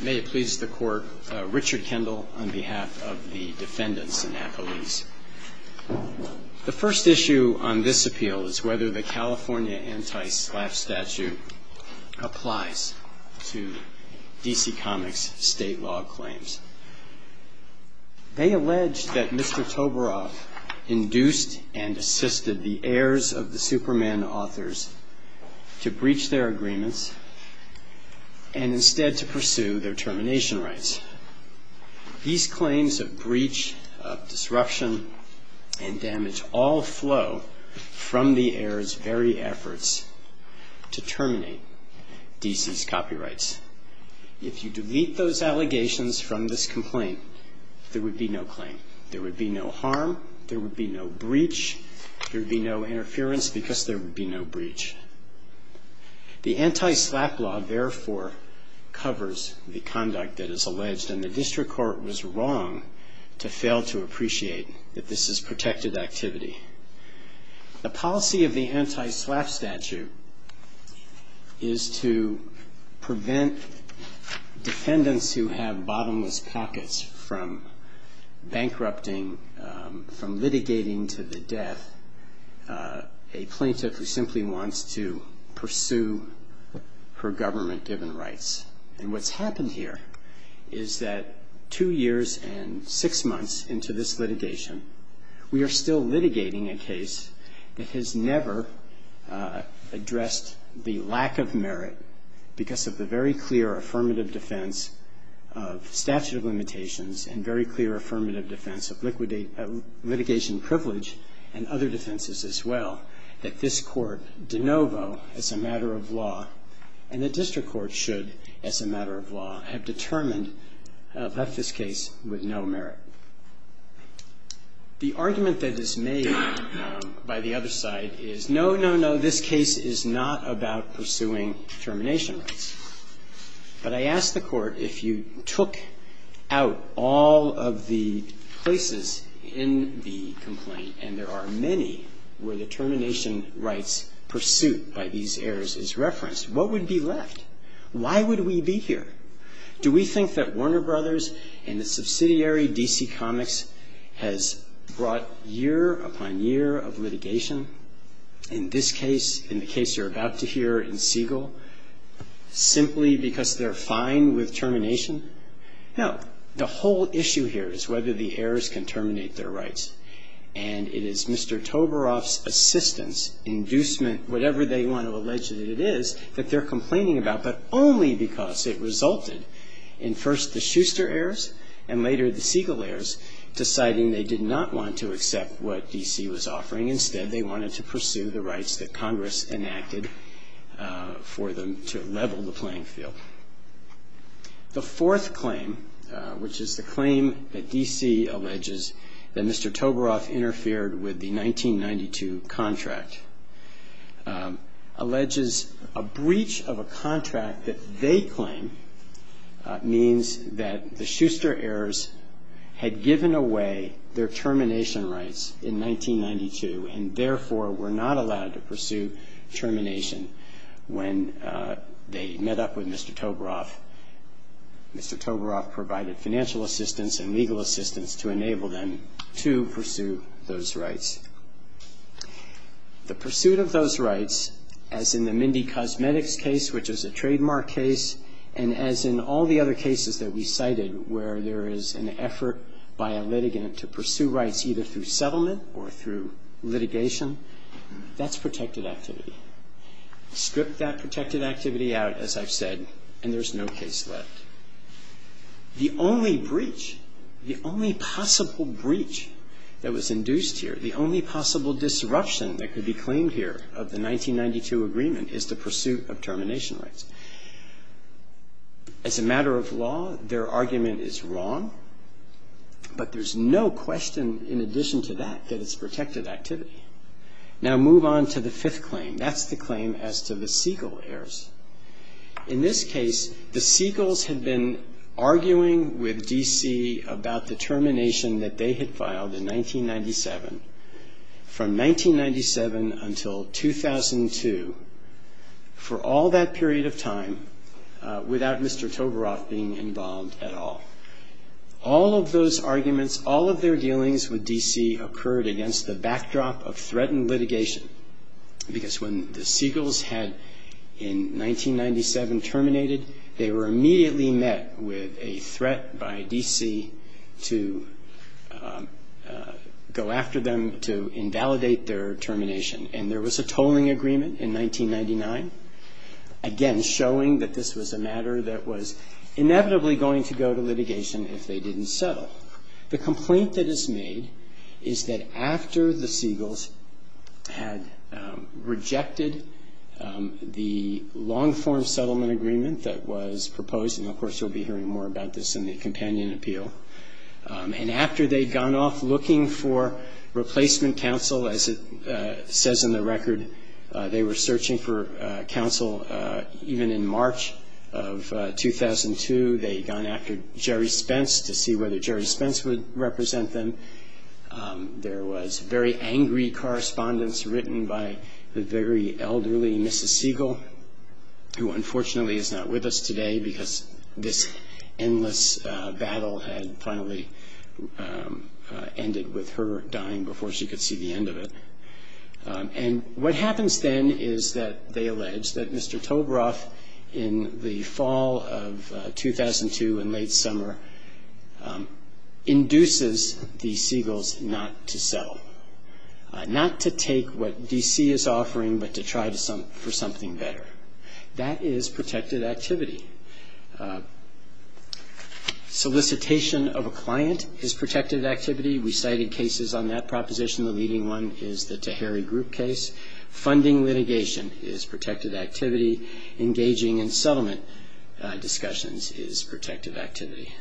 May it please the Court, Richard Kendall on behalf of the defendants in Appalachia. The first issue on this appeal is whether the California Anti-Slap Statute applies to DC Comics' state law claims. They allege that Mr. Toborow induced and assisted the heirs of the Superman authors to breach their agreements and instead to pursue their termination rights. These claims of breach, of disruption, and damage all flow from the heirs' very efforts to terminate DC's copyrights. If you delete those allegations from this complaint, there would be no claim. There would be no harm, there would be no breach, there would be no interference because there would be no breach. The Anti-Slap Law therefore covers the conduct that is alleged and the District Court was wrong to fail to appreciate that this is protected activity. The policy of the Anti-Slap Statute is to prevent defendants who have bottomless pockets from bankrupting, from litigating to the death a plaintiff who simply wants to pursue her government-driven rights. And what's happened here is that two years and six months into this litigation, we are still litigating a case that has never addressed the lack of merit because of the very clear affirmative defense of statute of limitations and very clear affirmative defense of litigation privilege and other defenses as well that this Court de novo, as a matter of law, and the District Court should, as a matter of law, have determined, have left this case with no merit. The argument that is made by the other side is, no, no, no, this case is not about pursuing termination rights. But I ask the Court, if you took out all of the places in the complaint and there are many where the termination rights pursuit by these heirs is referenced, what would be left? Why would we be here? Do we think that Warner Brothers and the subsidiary DC Comics has brought year upon year of litigation, in this case, in the case you're about to hear in Siegel, simply because they're fine with termination? No. The whole issue here is whether the heirs can terminate their rights. And it is Mr. Tovaroff's assistance, inducement, whatever they want to allege that it is, that they're complaining about, but only because it resulted in first the Schuster heirs and later the Siegel heirs deciding they did not want to accept what DC was offering. Instead, they wanted to pursue the rights that Congress enacted for them to level the playing field. The fourth claim, which is the claim that DC alleges that Mr. Tovaroff interfered with the 1992 contract, alleges a breach of a contract that they claim means that the Schuster heirs had given away their termination rights in 1992 and therefore were not allowed to pursue termination when they met up with Mr. Tovaroff. Mr. Tovaroff provided financial assistance and legal assistance to enable them to pursue those rights. The pursuit of those rights, as in the Mindy Cosmetics case, which is a trademark case, and as in all the other cases that we cited where there is an effort by a litigant to pursue rights either through settlement or through litigation, that's protected activity. Strip that protected activity out, as I've said, and there's no case left. The only breach, the only possible breach that was induced here, the only possible disruption that could be claimed here of the 1992 agreement is the pursuit of termination rights. As a matter of law, their argument is wrong, but there's no question in addition to that that it's protected activity. Now move on to the fifth claim. That's the claim as to the Seagulls had been arguing with D.C. about the termination that they had filed in 1997 from 1997 until 2002 for all that period of time without Mr. Tovaroff being involved at all. All of those arguments, all of their dealings with D.C. occurred against the backdrop of threatened litigation because when the Seagulls had in 1997 terminated, they were immediately met with a threat by D.C. to go after them to invalidate their termination. And there was a tolling agreement in 1999, again showing that this was a matter that was inevitably going to go to litigation if they didn't settle. The complaint that is made is that after the Seagulls had rejected the long-form settlement agreement that was proposed and, of course, you'll be hearing more about this in the companion appeal, and after they'd gone off looking for replacement counsel, as it says in the record, they were searching for counsel even in March of 2002. They had gone after Jerry Spence to see whether Jerry Spence would represent them. There was very angry correspondence written by the very elderly Mrs. Seagull, who, unfortunately, is not with us today because this endless battle had finally ended with her dying before she could see the end of it. And what happens then is that they allege that Mr. Tovaroff, in the fall of 2002, in late summer, induces the Seagulls not to do something better. That is protected activity. Solicitation of a client is protected activity. We cited cases on that proposition. The leading one is the Tahiri Group case. Funding litigation is protected activity. Engaging in settlement discussions is protected activity.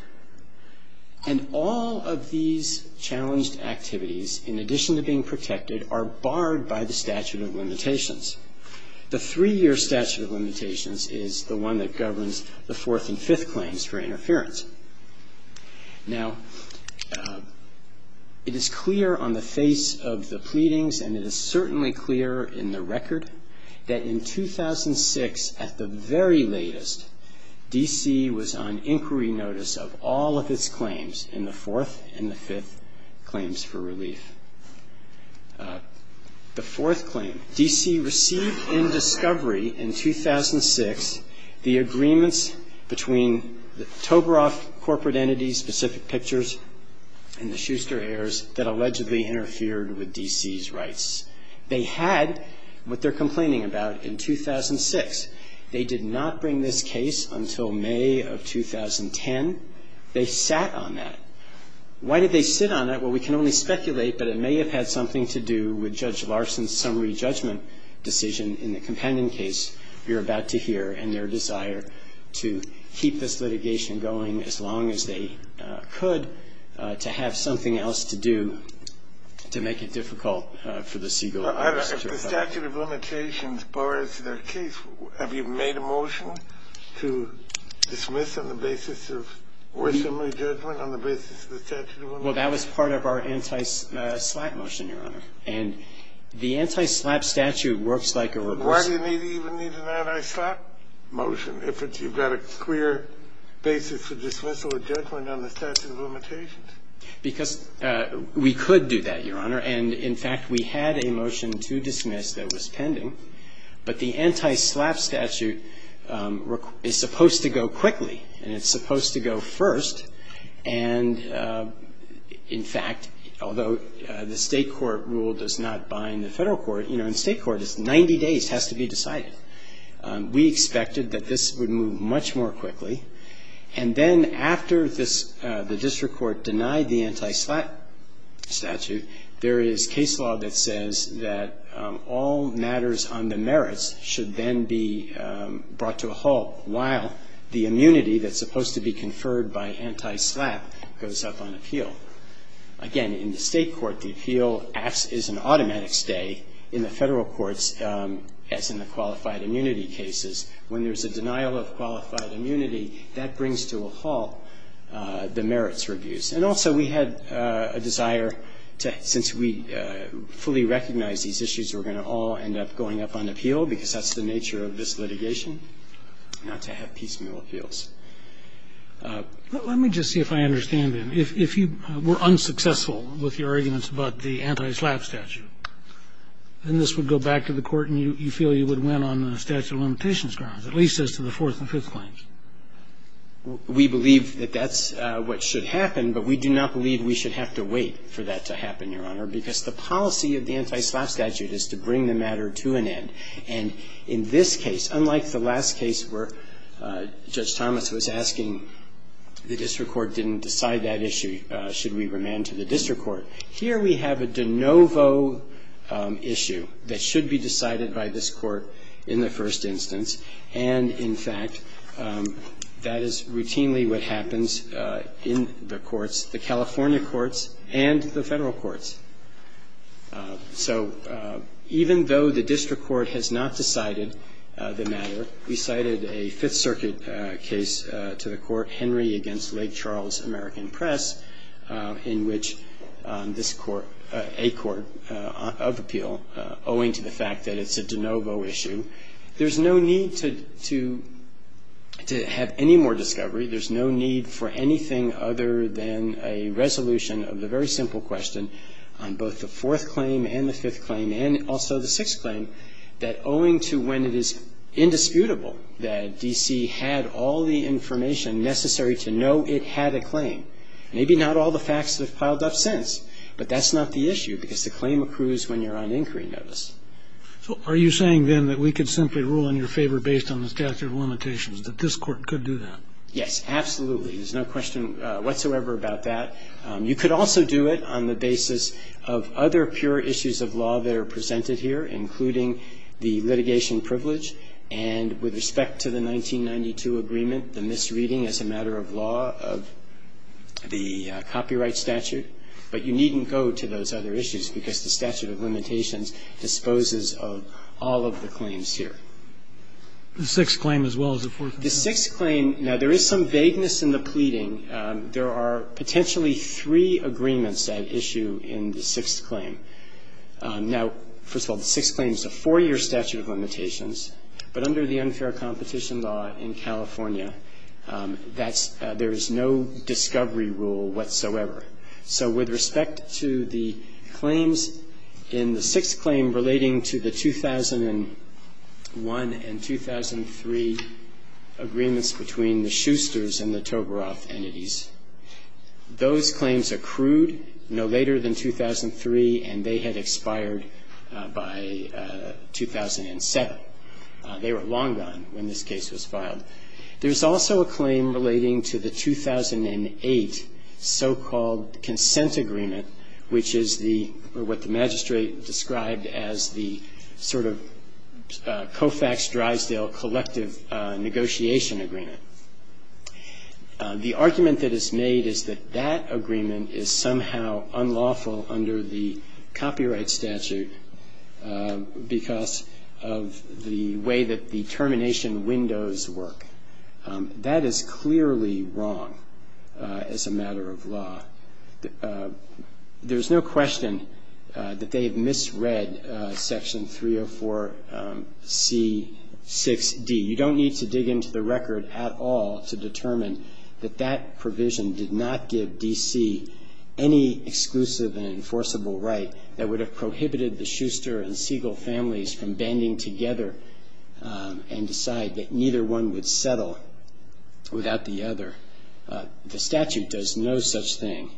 And all of these challenged activities, in addition to being protected, are barred by the statute of limitations. The three-year statute of limitations is the one that governs the fourth and fifth claims for interference. Now, it is clear on the face of the pleadings, and it is certainly clear in the record, that in 2006, at the very latest, D.C. was on inquiry notice of all of its claims in the fourth and the fifth claims for relief. The fourth claim, D.C. received in discovery in 2006, the agreements between the Tovaroff corporate entities, Specific Pictures, and the Schuster heirs that allegedly interfered with D.C.'s rights. They had what they're complaining about in 2006. They did not bring this case until May of 2010. They sat on that. Why did they sit on that? Well, we can only speculate, but it may have had something to do with Judge Larson's summary judgment decision in the companion case you're about to hear and their desire to keep this litigation going as long as they could to have something else to do to make it difficult for the Siegel case. The statute of limitations, as far as their case, have you made a motion to dismiss on the basis of summary judgment, on the basis of the statute of limitations? Well, that was part of our anti-slap motion, Your Honor. And the anti-slap statute works like a reversal. Why do you even need an anti-slap motion if you've got a clear basis for dismissal or judgment on the statute of limitations? Because we could do that, Your Honor. And, in fact, we had a motion to dismiss that was pending. But the anti-slap statute is supposed to go quickly, and it's supposed to go first. And, in fact, although the State court rule does not bind the Federal court, you know, in State court it's 90 days, it has to be decided. We expected that this would move much more quickly. And then after this, the district court denied the anti-slap statute, there is case law that says that all matters on the merits should then be brought to a halt while the immunity that's supposed to be conferred by anti-slap goes up on appeal. Again, in the State court, the appeal acts as an automatic stay in the Federal courts as in the qualified immunity cases. When there's a denial of qualified immunity, that brings to a halt the merits reviews. And also we had a desire to, since we fully recognize these issues, we're going to all end up going up on appeal because that's the nature of this litigation, not to have piecemeal appeals. But let me just see if I understand him. If you were unsuccessful with your arguments about the anti-slap statute, then this would go back to the Court and you feel you would win on the statute of limitations grounds, at least as to the Fourth and Fifth claims. We believe that that's what should happen, but we do not believe we should have to wait for that to happen, Your Honor, because the policy of the anti-slap statute is to bring the matter to an end. And in this case, unlike the last case where Judge Thomas was asking the district court didn't decide that issue, should we remand to the district court, here we have a de novo issue that should be decided by this court in the first instance, and in fact, that is routinely what happens in the courts, the California courts and the Federal courts. So even though the district court has not decided the matter, we cited a Fifth Circuit case to the court, Henry v. Lake Charles American Press, in which this court, a court of appeal, owing to the fact that it's a de novo issue, there's no need to have any more discovery, there's no need for anything other than a resolution of the very simple question on both the fourth claim and the fifth claim and also the sixth claim, that owing to when it is indisputable that D.C. had all the information necessary to know it had a claim, maybe not all the facts have piled up since, but that's not the issue because the claim accrues when you're on inquiry notice. So are you saying, then, that we could simply rule in your favor based on the statute of limitations, that this court could do that? Yes, absolutely. There's no question whatsoever about that. You could also do it on the basis of other pure issues of law that are presented here, including the litigation privilege and, with respect to the 1992 agreement, the misreading as a matter of law of the copyright statute. But you needn't go to those other issues because the statute of limitations disposes of all of the claims here. The sixth claim as well as the fourth claim? The sixth claim, now, there is some vagueness in the pleading. There are potentially three agreements at issue in the sixth claim. Now, first of all, the sixth claim is a four-year statute of limitations, but under the unfair competition law in California, that's – there is no discovery rule whatsoever. So with respect to the claims in the sixth claim relating to the 2001 and 2003 agreements between the Schusters and the Toberoff entities, those claims accrued no later than 2003, and they had expired by 2007. They were long gone when this case was filed. There's also a claim relating to the 2008 so-called consent agreement, which is the or what the magistrate described as the sort of Koufax-Drysdale collective negotiation agreement. The argument that is made is that that agreement is somehow unlawful under the copyright statute because of the way that the termination windows work. There's no question that they have misread Section 304C6D. You don't need to dig into the record at all to determine that that provision did not give D.C. any exclusive and enforceable right that would have prohibited the Schuster and Siegel families from banding together and decide that neither one would settle without the other. The statute does no such thing.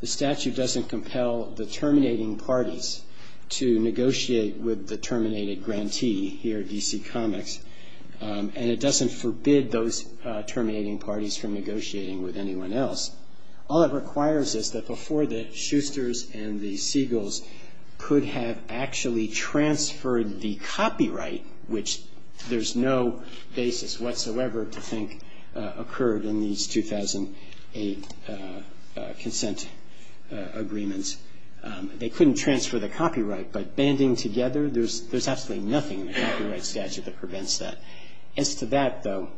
The statute doesn't compel the terminating parties to negotiate with the terminated grantee here at D.C. Comics, and it doesn't forbid those terminating parties from negotiating with anyone else. All it requires is that before the Schusters and the Siegels could have actually consent agreements, they couldn't transfer the copyright. But banding together, there's absolutely nothing in the copyright statute that prevents that. As to that, though,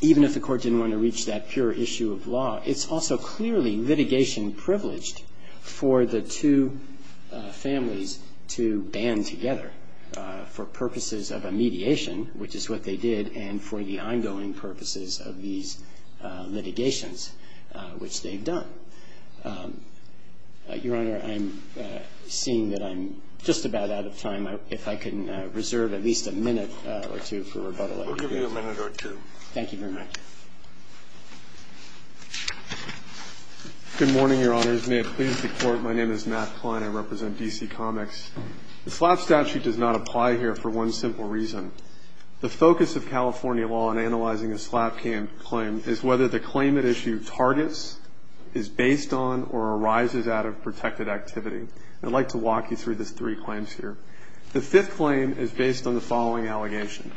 even if the Court didn't want to reach that pure issue of law, it's also clearly litigation privileged for the two families to band together for purposes of a mediation, which is what they did, and for the ongoing purposes of these litigations, which they've done. Your Honor, I'm seeing that I'm just about out of time. If I can reserve at least a minute or two for rebuttal. We'll give you a minute or two. Thank you very much. Good morning, Your Honors. May it please the Court. My name is Matt Klein. I represent D.C. Comics. The SLAPP statute does not apply here for one simple reason. The focus of California law in analyzing a SLAPP claim is whether the claim at issue targets is based on or arises out of protected activity. I'd like to walk you through the three claims here. The fifth claim is based on the following allegation.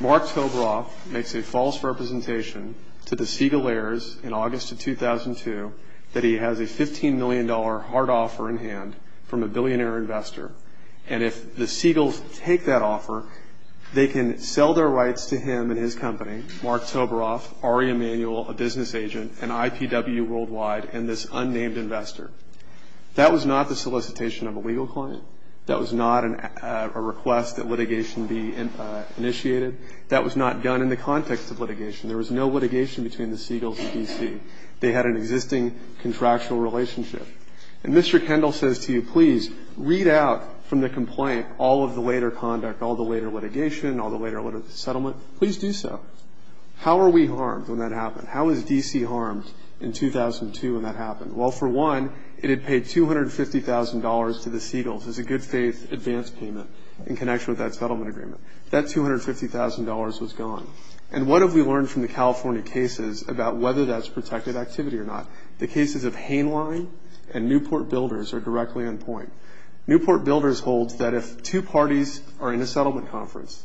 Mark Toberoff makes a false representation to the Siegel heirs in August of 2002 that he has a $15 million hard offer in hand from a billionaire investor. And if the Siegels take that offer, they can sell their rights to him and his company, Mark Toberoff, Ari Emanuel, a business agent, and IPW Worldwide, and this unnamed investor. That was not the solicitation of a legal client. That was not a request that litigation be initiated. That was not done in the context of litigation. There was no litigation between the Siegels and D.C. They had an existing contractual relationship. And Mr. Kendall says to you, please, read out from the complaint all of the later conduct, all the later litigation, all the later settlement. Please do so. How were we harmed when that happened? How was D.C. harmed in 2002 when that happened? Well, for one, it had paid $250,000 to the Siegels as a good faith advance payment in connection with that settlement agreement. That $250,000 was gone. And what have we learned from the California cases about whether that's protected activity or not? The cases of Hainline and Newport Builders are directly on point. Newport Builders holds that if two parties are in a settlement conference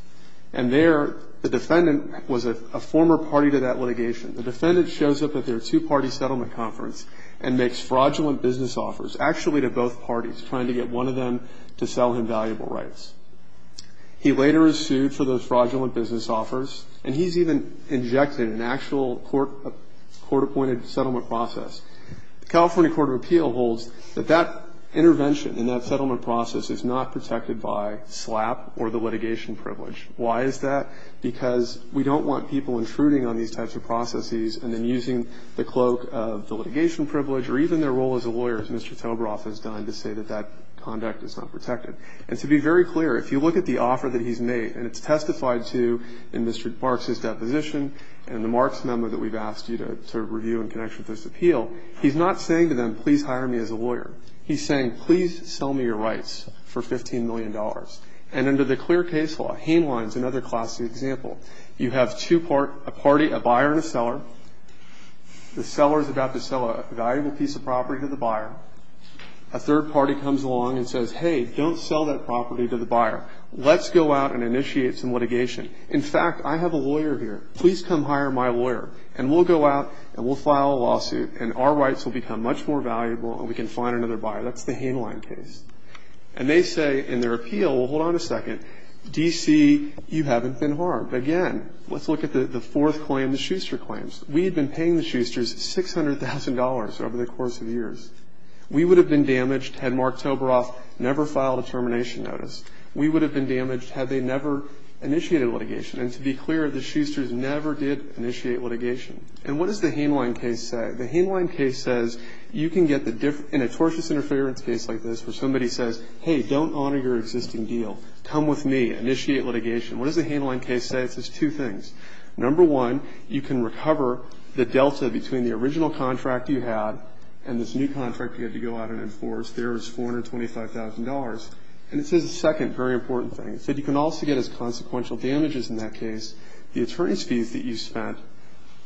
and there the defendant was a former party to that litigation, the defendant shows up at their two-party settlement conference and makes fraudulent business offers, actually to both parties, trying to get one of them to sell him valuable rights. He later is sued for those fraudulent business offers, and he's even injected an actual court-appointed settlement process. The California Court of Appeal holds that that intervention in that settlement process is not protected by SLAP or the litigation privilege. Why is that? Because we don't want people intruding on these types of processes and then using the cloak of the litigation privilege or even their role as a lawyer, as Mr. Tobaroff has done, to say that that conduct is not protected. And to be very clear, if you look at the offer that he's made, and it's testified to in Mr. Marks' deposition and the Marks memo that we've asked you to review in connection with this appeal, he's not saying to them, please hire me as a lawyer. He's saying, please sell me your rights for $15 million. And under the clear case law, Hainline is another classic example. You have a buyer and a seller. The seller is about to sell a valuable piece of property to the buyer. A third party comes along and says, hey, don't sell that property to the buyer. Let's go out and initiate some litigation. In fact, I have a lawyer here. Please come hire my lawyer, and we'll go out and we'll file a lawsuit, and our rights will become much more valuable and we can find another buyer. That's the Hainline case. And they say in their appeal, well, hold on a second, D.C., you haven't been harmed. Again, let's look at the fourth claim, the Schuster claims. We had been paying the Schusters $600,000 over the course of years. We would have been damaged had Mark Toberoff never filed a termination notice. We would have been damaged had they never initiated litigation. And to be clear, the Schusters never did initiate litigation. And what does the Hainline case say? The Hainline case says you can get the difference in a tortious interference case like this where somebody says, hey, don't honor your existing deal. Come with me. Initiate litigation. What does the Hainline case say? It says two things. Number one, you can recover the delta between the original contract you had and this new contract you had to go out and enforce. There is $425,000. And it says a second very important thing. It said you can also get as consequential damages in that case, the attorney's fees that you spent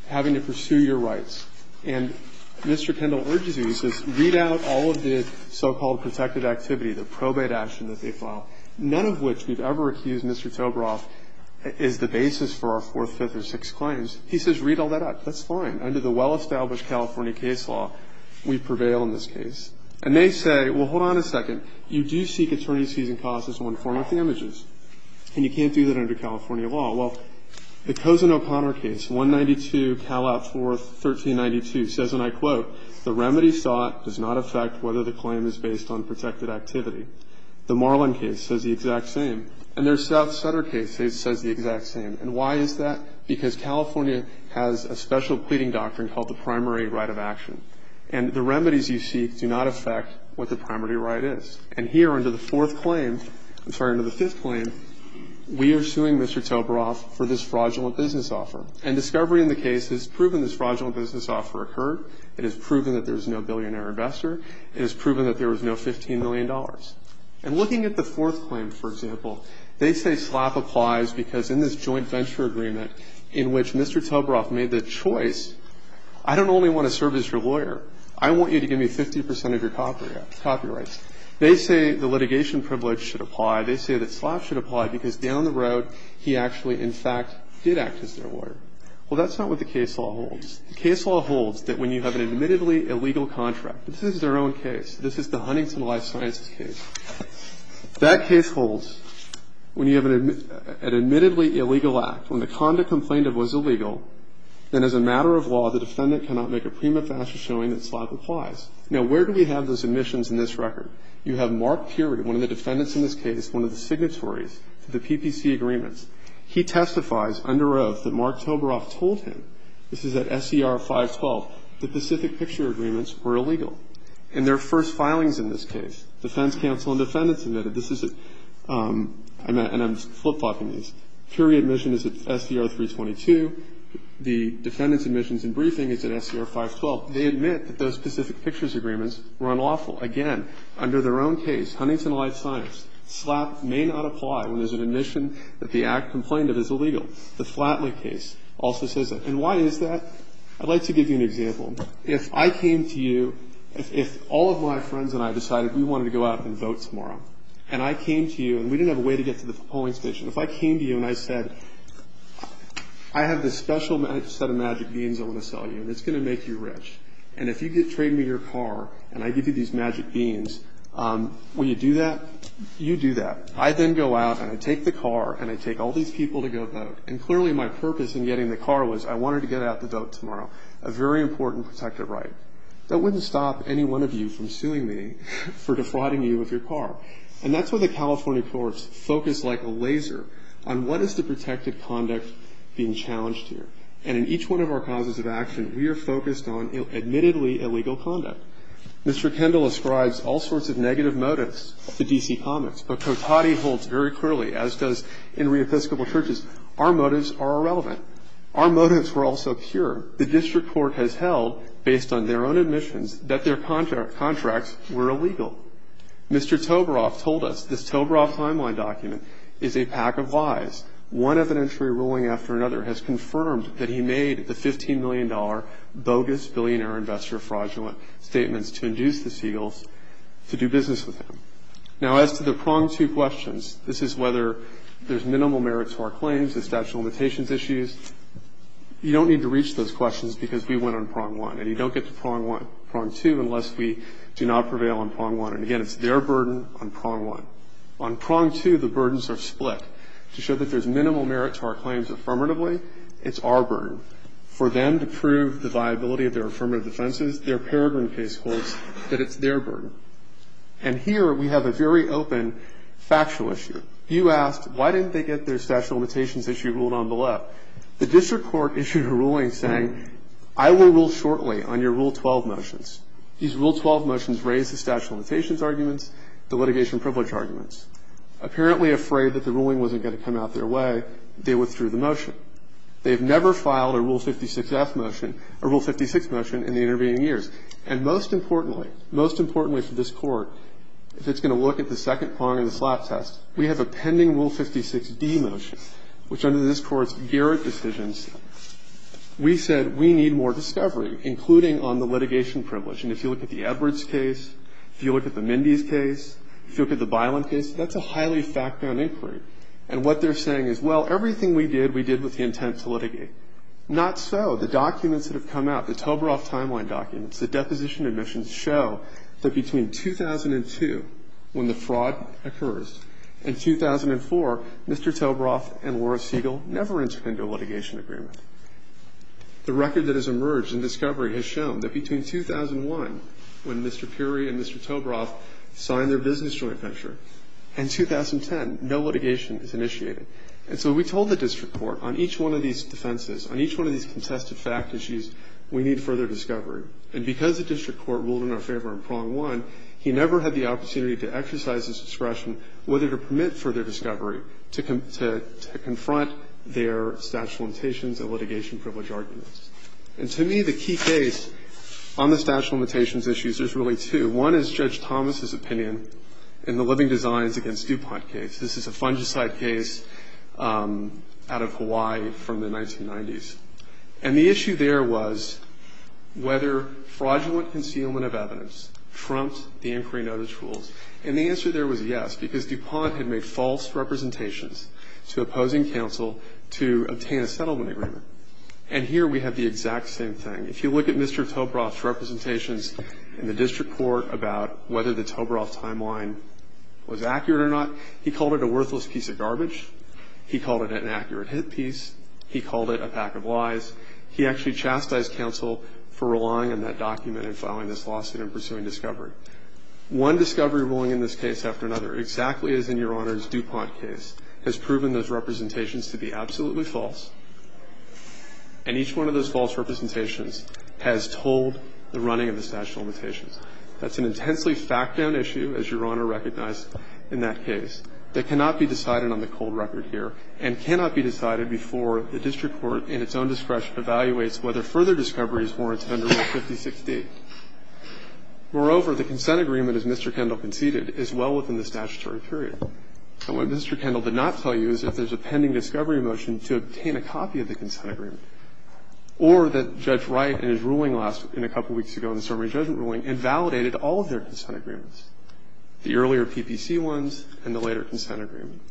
having to pursue your rights. And Mr. Kendall urges you, he says, read out all of the so-called protected activity, the probate action that they filed, none of which we've ever accused Mr. Tobroff is the basis for our fourth, fifth, or sixth claims. He says, read all that out. That's fine. Under the well-established California case law, we prevail in this case. And they say, well, hold on a second. You do seek attorney's fees and costs as one form of damages, and you can't do that under California law. Well, the Cozen-O'Connor case, 192 Calat 4, 1392 says, and I quote, the remedy sought does not affect whether the claim is based on protected activity. The Marlin case says the exact same. And their South Sutter case says the exact same. And why is that? Because California has a special pleading doctrine called the primary right of action. And the remedies you seek do not affect what the primary right is. And here under the fourth claim, I'm sorry, under the fifth claim, we are suing Mr. Tobroff for this fraudulent business offer. And discovery in the case has proven this fraudulent business offer occurred. It has proven that there's no billionaire investor. It has proven that there was no $15 million. And looking at the fourth claim, for example, they say SLAP applies because in this joint venture agreement in which Mr. Tobroff made the choice, I don't only want to serve as your lawyer. I want you to give me 50 percent of your copyrights. They say the litigation privilege should apply. They say that SLAP should apply because down the road he actually, in fact, did act as their lawyer. Well, that's not what the case law holds. The case law holds that when you have an admittedly illegal contract, this is their own case. This is the Huntington Life Sciences case. That case holds when you have an admittedly illegal act, when the conduct complained of was illegal, then as a matter of law, the defendant cannot make a prima facie showing that SLAP applies. Now, where do we have those admissions in this record? You have Mark Peary, one of the defendants in this case, one of the signatories to the PPC agreements. He testifies under oath that Mark Tobroff told him, this is at SER 512, the Pacific Picture Agreements were illegal. In their first filings in this case, defense counsel and defendants admitted this is a – and I'm flip-flopping these. Peary admission is at SER 322. The defendant's admissions and briefing is at SER 512. They admit that those Pacific Pictures Agreements were unlawful. Again, under their own case, Huntington Life Science, SLAP may not apply when there's an admission that the act complained of is illegal. The Flatley case also says that. And why is that? I'd like to give you an example. If I came to you, if all of my friends and I decided we wanted to go out and vote tomorrow, and I came to you, and we didn't have a way to get to the polling station. If I came to you and I said, I have this special set of magic beans I want to sell you, and it's going to make you rich. And if you trade me your car and I give you these magic beans, will you do that? You do that. I then go out and I take the car and I take all these people to go vote. And clearly my purpose in getting the car was I wanted to get out to vote tomorrow, a very important protective right. That wouldn't stop any one of you from suing me for defrauding you of your car. And that's why the California courts focus like a laser on what is the protective conduct being challenged here. And in each one of our causes of action, we are focused on admittedly illegal conduct. Mr. Kendall ascribes all sorts of negative motives to D.C. Comics, but Cotati holds very clearly, as does in re-Episcopal churches, our motives are irrelevant. Our motives were also pure. The district court has held, based on their own admissions, that their contracts were illegal. Mr. Toberoff told us this Toberoff timeline document is a pack of lies. One evidentiary ruling after another has confirmed that he made the $15 million bogus billionaire investor fraudulent statements to induce the Seagulls to do business with him. Now, as to the prong two questions, this is whether there's minimal merit to our claims, the statute of limitations issues, you don't need to reach those questions because we went on prong one. And you don't get to prong two unless we do not prevail on prong one. And, again, it's their burden on prong one. On prong two, the burdens are split. To show that there's minimal merit to our claims affirmatively, it's our burden. For them to prove the viability of their affirmative defenses, their Peregrine case holds that it's their burden. And here we have a very open factual issue. You asked, why didn't they get their statute of limitations issue ruled on below? The district court issued a ruling saying, I will rule shortly on your Rule 12 motions. These Rule 12 motions raise the statute of limitations arguments, the litigation privilege arguments. Apparently afraid that the ruling wasn't going to come out their way, they withdrew the motion. They have never filed a Rule 56 motion in the intervening years. And most importantly, most importantly to this Court, if it's going to look at the second prong of the slap test, we have a pending Rule 56D motion, which under this Court's Garrett decisions, we said we need more discovery, including on the litigation privilege. And if you look at the Edwards case, if you look at the Mindy's case, if you look at the Bilan case, that's a highly fact-bound inquiry. And what they're saying is, well, everything we did, we did with the intent to litigate. Not so. The documents that have come out, the Toberoff timeline documents, the deposition admissions show that between 2002, when the fraud occurs, and 2004, Mr. Toberoff and Laura Siegel never entered into a litigation agreement. The record that has emerged in discovery has shown that between 2001, when Mr. Puri and Mr. Toberoff signed their business joint venture, and 2010, no litigation is initiated. And so we told the district court, on each one of these defenses, on each one of these contested fact issues, we need further discovery. And because the district court ruled in our favor in prong one, he never had the opportunity to exercise his discretion, whether to permit further discovery, to confront their statute of limitations and litigation privilege arguments. And to me, the key case on the statute of limitations issues, there's really two. One is Judge Thomas's opinion in the Living Designs v. DuPont case. This is a fungicide case out of Hawaii from the 1990s. And the issue there was whether fraudulent concealment of evidence trumped the inquiry notice rules. And the answer there was yes, because DuPont had made false representations to opposing counsel to obtain a settlement agreement. And here we have the exact same thing. If you look at Mr. Toberoff's representations in the district court about whether the Toberoff timeline was accurate or not, he called it a worthless piece of garbage. He called it an accurate hit piece. He called it a pack of lies. He actually chastised counsel for relying on that document and filing this lawsuit and pursuing discovery. One discovery ruling in this case after another, exactly as in Your Honor's DuPont case, has proven those representations to be absolutely false. And each one of those false representations has told the running of the statute of limitations. That's an intensely fact-bound issue, as Your Honor recognized in that case, that cannot be decided on the cold record here and cannot be decided before the district court in its own discretion evaluates whether further discovery is warranted under Rule 5016. Moreover, the consent agreement, as Mr. Kendall conceded, is well within the statutory period. And what Mr. Kendall did not tell you is that there's a pending discovery motion to obtain a copy of the consent agreement, or that Judge Wright in his ruling last week and a couple weeks ago in the summary judgment ruling invalidated all of their consent agreements, the earlier PPC ones and the later consent agreement.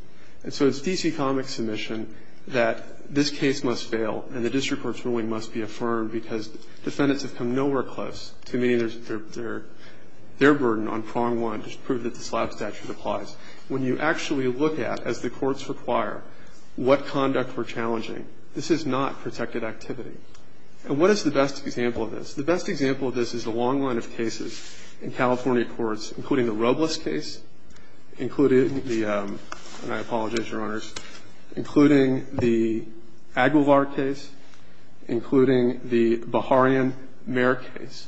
And so it's D.C. Comics' submission that this case must fail and the district court's ruling must be affirmed because defendants have come nowhere close to meeting their burden on prong one to prove that the slab statute applies. When you actually look at, as the courts require, what conduct we're challenging, this is not protected activity. And what is the best example of this? The best example of this is the long line of cases in California courts, including the Robles case, including the – and I apologize, Your Honors – including the Aguilar case, including the Baharian-Meier case,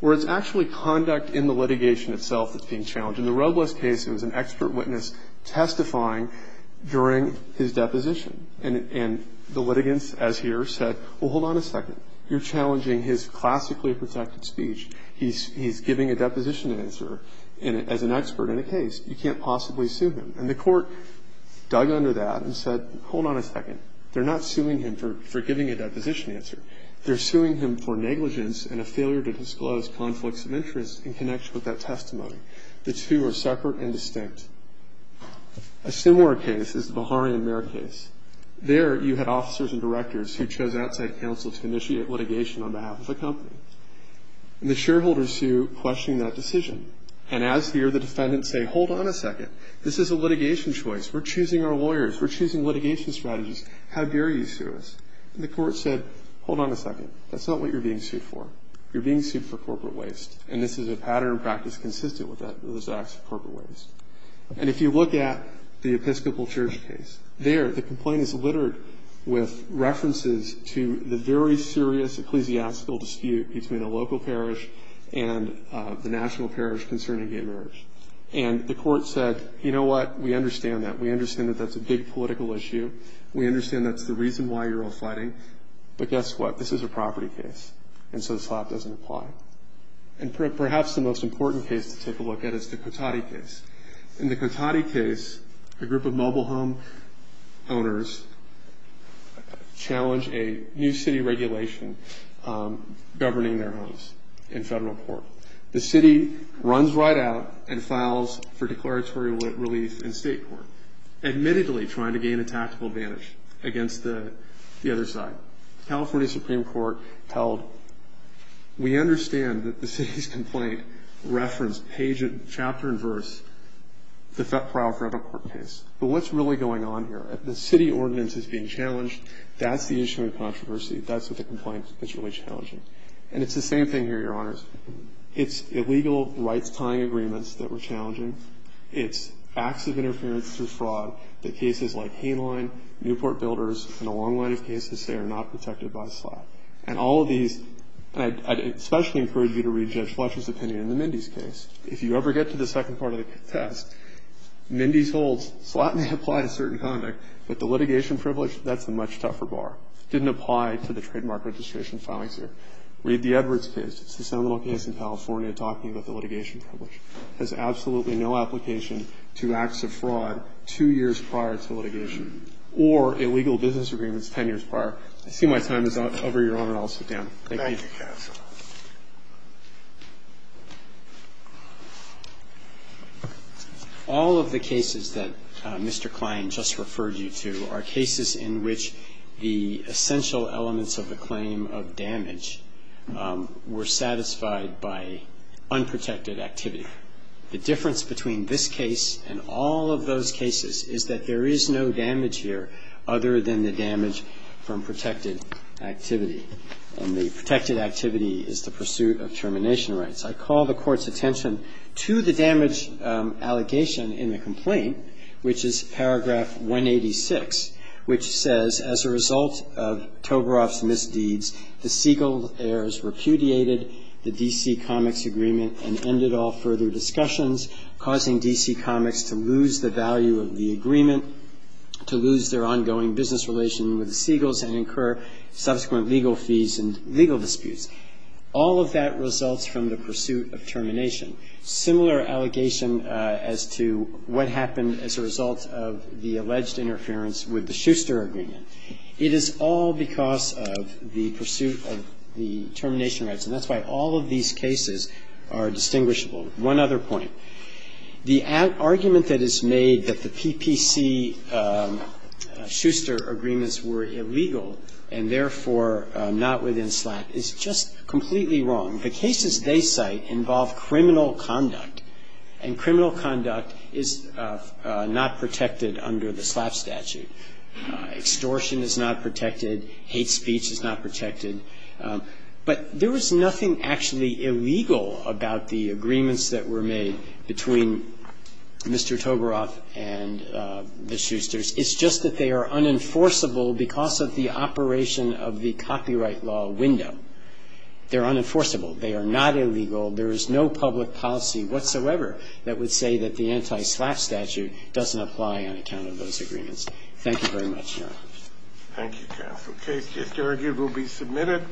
where it's actually conduct in the litigation itself that's being challenged. In the Robles case, it was an expert witness testifying during his deposition. And the litigants, as here, said, well, hold on a second. You're challenging his classically protected speech. He's giving a deposition answer as an expert in a case. You can't possibly sue him. And the court dug under that and said, hold on a second. They're not suing him for giving a deposition answer. They're suing him for negligence and a failure to disclose conflicts of interest in connection with that testimony. The two are separate and distinct. A similar case is the Baharian-Meier case. There, you had officers and directors who chose outside counsel to initiate litigation on behalf of the company. And the shareholders sue, questioning that decision. And as here, the defendants say, hold on a second. This is a litigation choice. We're choosing our lawyers. We're choosing litigation strategies. How dare you sue us? And the court said, hold on a second. That's not what you're being sued for. You're being sued for corporate waste. And this is a pattern of practice consistent with those acts of corporate waste. And if you look at the Episcopal Church case, there, the complaint is littered with references to the very serious ecclesiastical dispute between a local parish and the national parish concerning gay marriage. And the court said, you know what? We understand that. We understand that that's a big political issue. We understand that's the reason why you're all fighting. But guess what? This is a property case. And so the slap doesn't apply. And perhaps the most important case to take a look at is the Cotati case. In the Cotati case, a group of mobile home owners challenge a new city regulation governing their homes in federal court. The city runs right out and files for declaratory relief in state court, admittedly trying to gain a tactical advantage against the other side. California Supreme Court held, we understand that the city's complaint referenced page and chapter and verse, the Fett-Prowl federal court case. But what's really going on here? The city ordinance is being challenged. That's the issue of controversy. That's what the complaint is really challenging. And it's the same thing here, Your Honors. It's illegal rights-tying agreements that we're challenging. It's acts of interference through fraud that cases like Hainline, Newport Builders, and a long line of cases say are not protected by a slap. And all of these – and I'd especially encourage you to read Judge Fletcher's opinion in the Mindy's case. If you ever get to the second part of the test, Mindy's holds slap may apply to certain conduct, but the litigation privilege, that's the much tougher bar. It didn't apply to the trademark registration filings here. Read the Edwards case. It's the seminal case in California talking about the litigation privilege. It has absolutely no application to acts of fraud two years prior to litigation. Or illegal business agreements 10 years prior. I see my time is up. Over, Your Honor. I'll sit down. Thank you. Thank you, counsel. All of the cases that Mr. Klein just referred you to are cases in which the essential elements of the claim of damage were satisfied by unprotected activity. The difference between this case and all of those cases is that there is no damage here other than the damage from protected activity. And the protected activity is the pursuit of termination rights. I call the Court's attention to the damage allegation in the complaint, which is paragraph 186, which says, As a result of Tovaroff's misdeeds, the Siegel heirs repudiated the D.C. Comics agreement and ended all further discussions, causing D.C. Comics to lose the value of the agreement, to lose their ongoing business relation with the Siegels, and incur subsequent legal fees and legal disputes. All of that results from the pursuit of termination. Similar allegation as to what happened as a result of the alleged interference with the Schuster agreement. It is all because of the pursuit of the termination rights. And that's why all of these cases are distinguishable. One other point. The argument that is made that the PPC-Schuster agreements were illegal and therefore not within SLAPP is just completely wrong. The cases they cite involve criminal conduct, and criminal conduct is not protected under the SLAPP statute. Extortion is not protected. Hate speech is not protected. But there was nothing actually illegal about the agreements that were made between Mr. Tovaroff and the Schusters. It's just that they are unenforceable because of the operation of the copyright law window. They're unenforceable. They are not illegal. There is no public policy whatsoever that would say that the anti-SLAPP statute doesn't apply on account of those agreements. Thank you very much, Your Honor. Thank you, counsel. The case just argued will be submitted.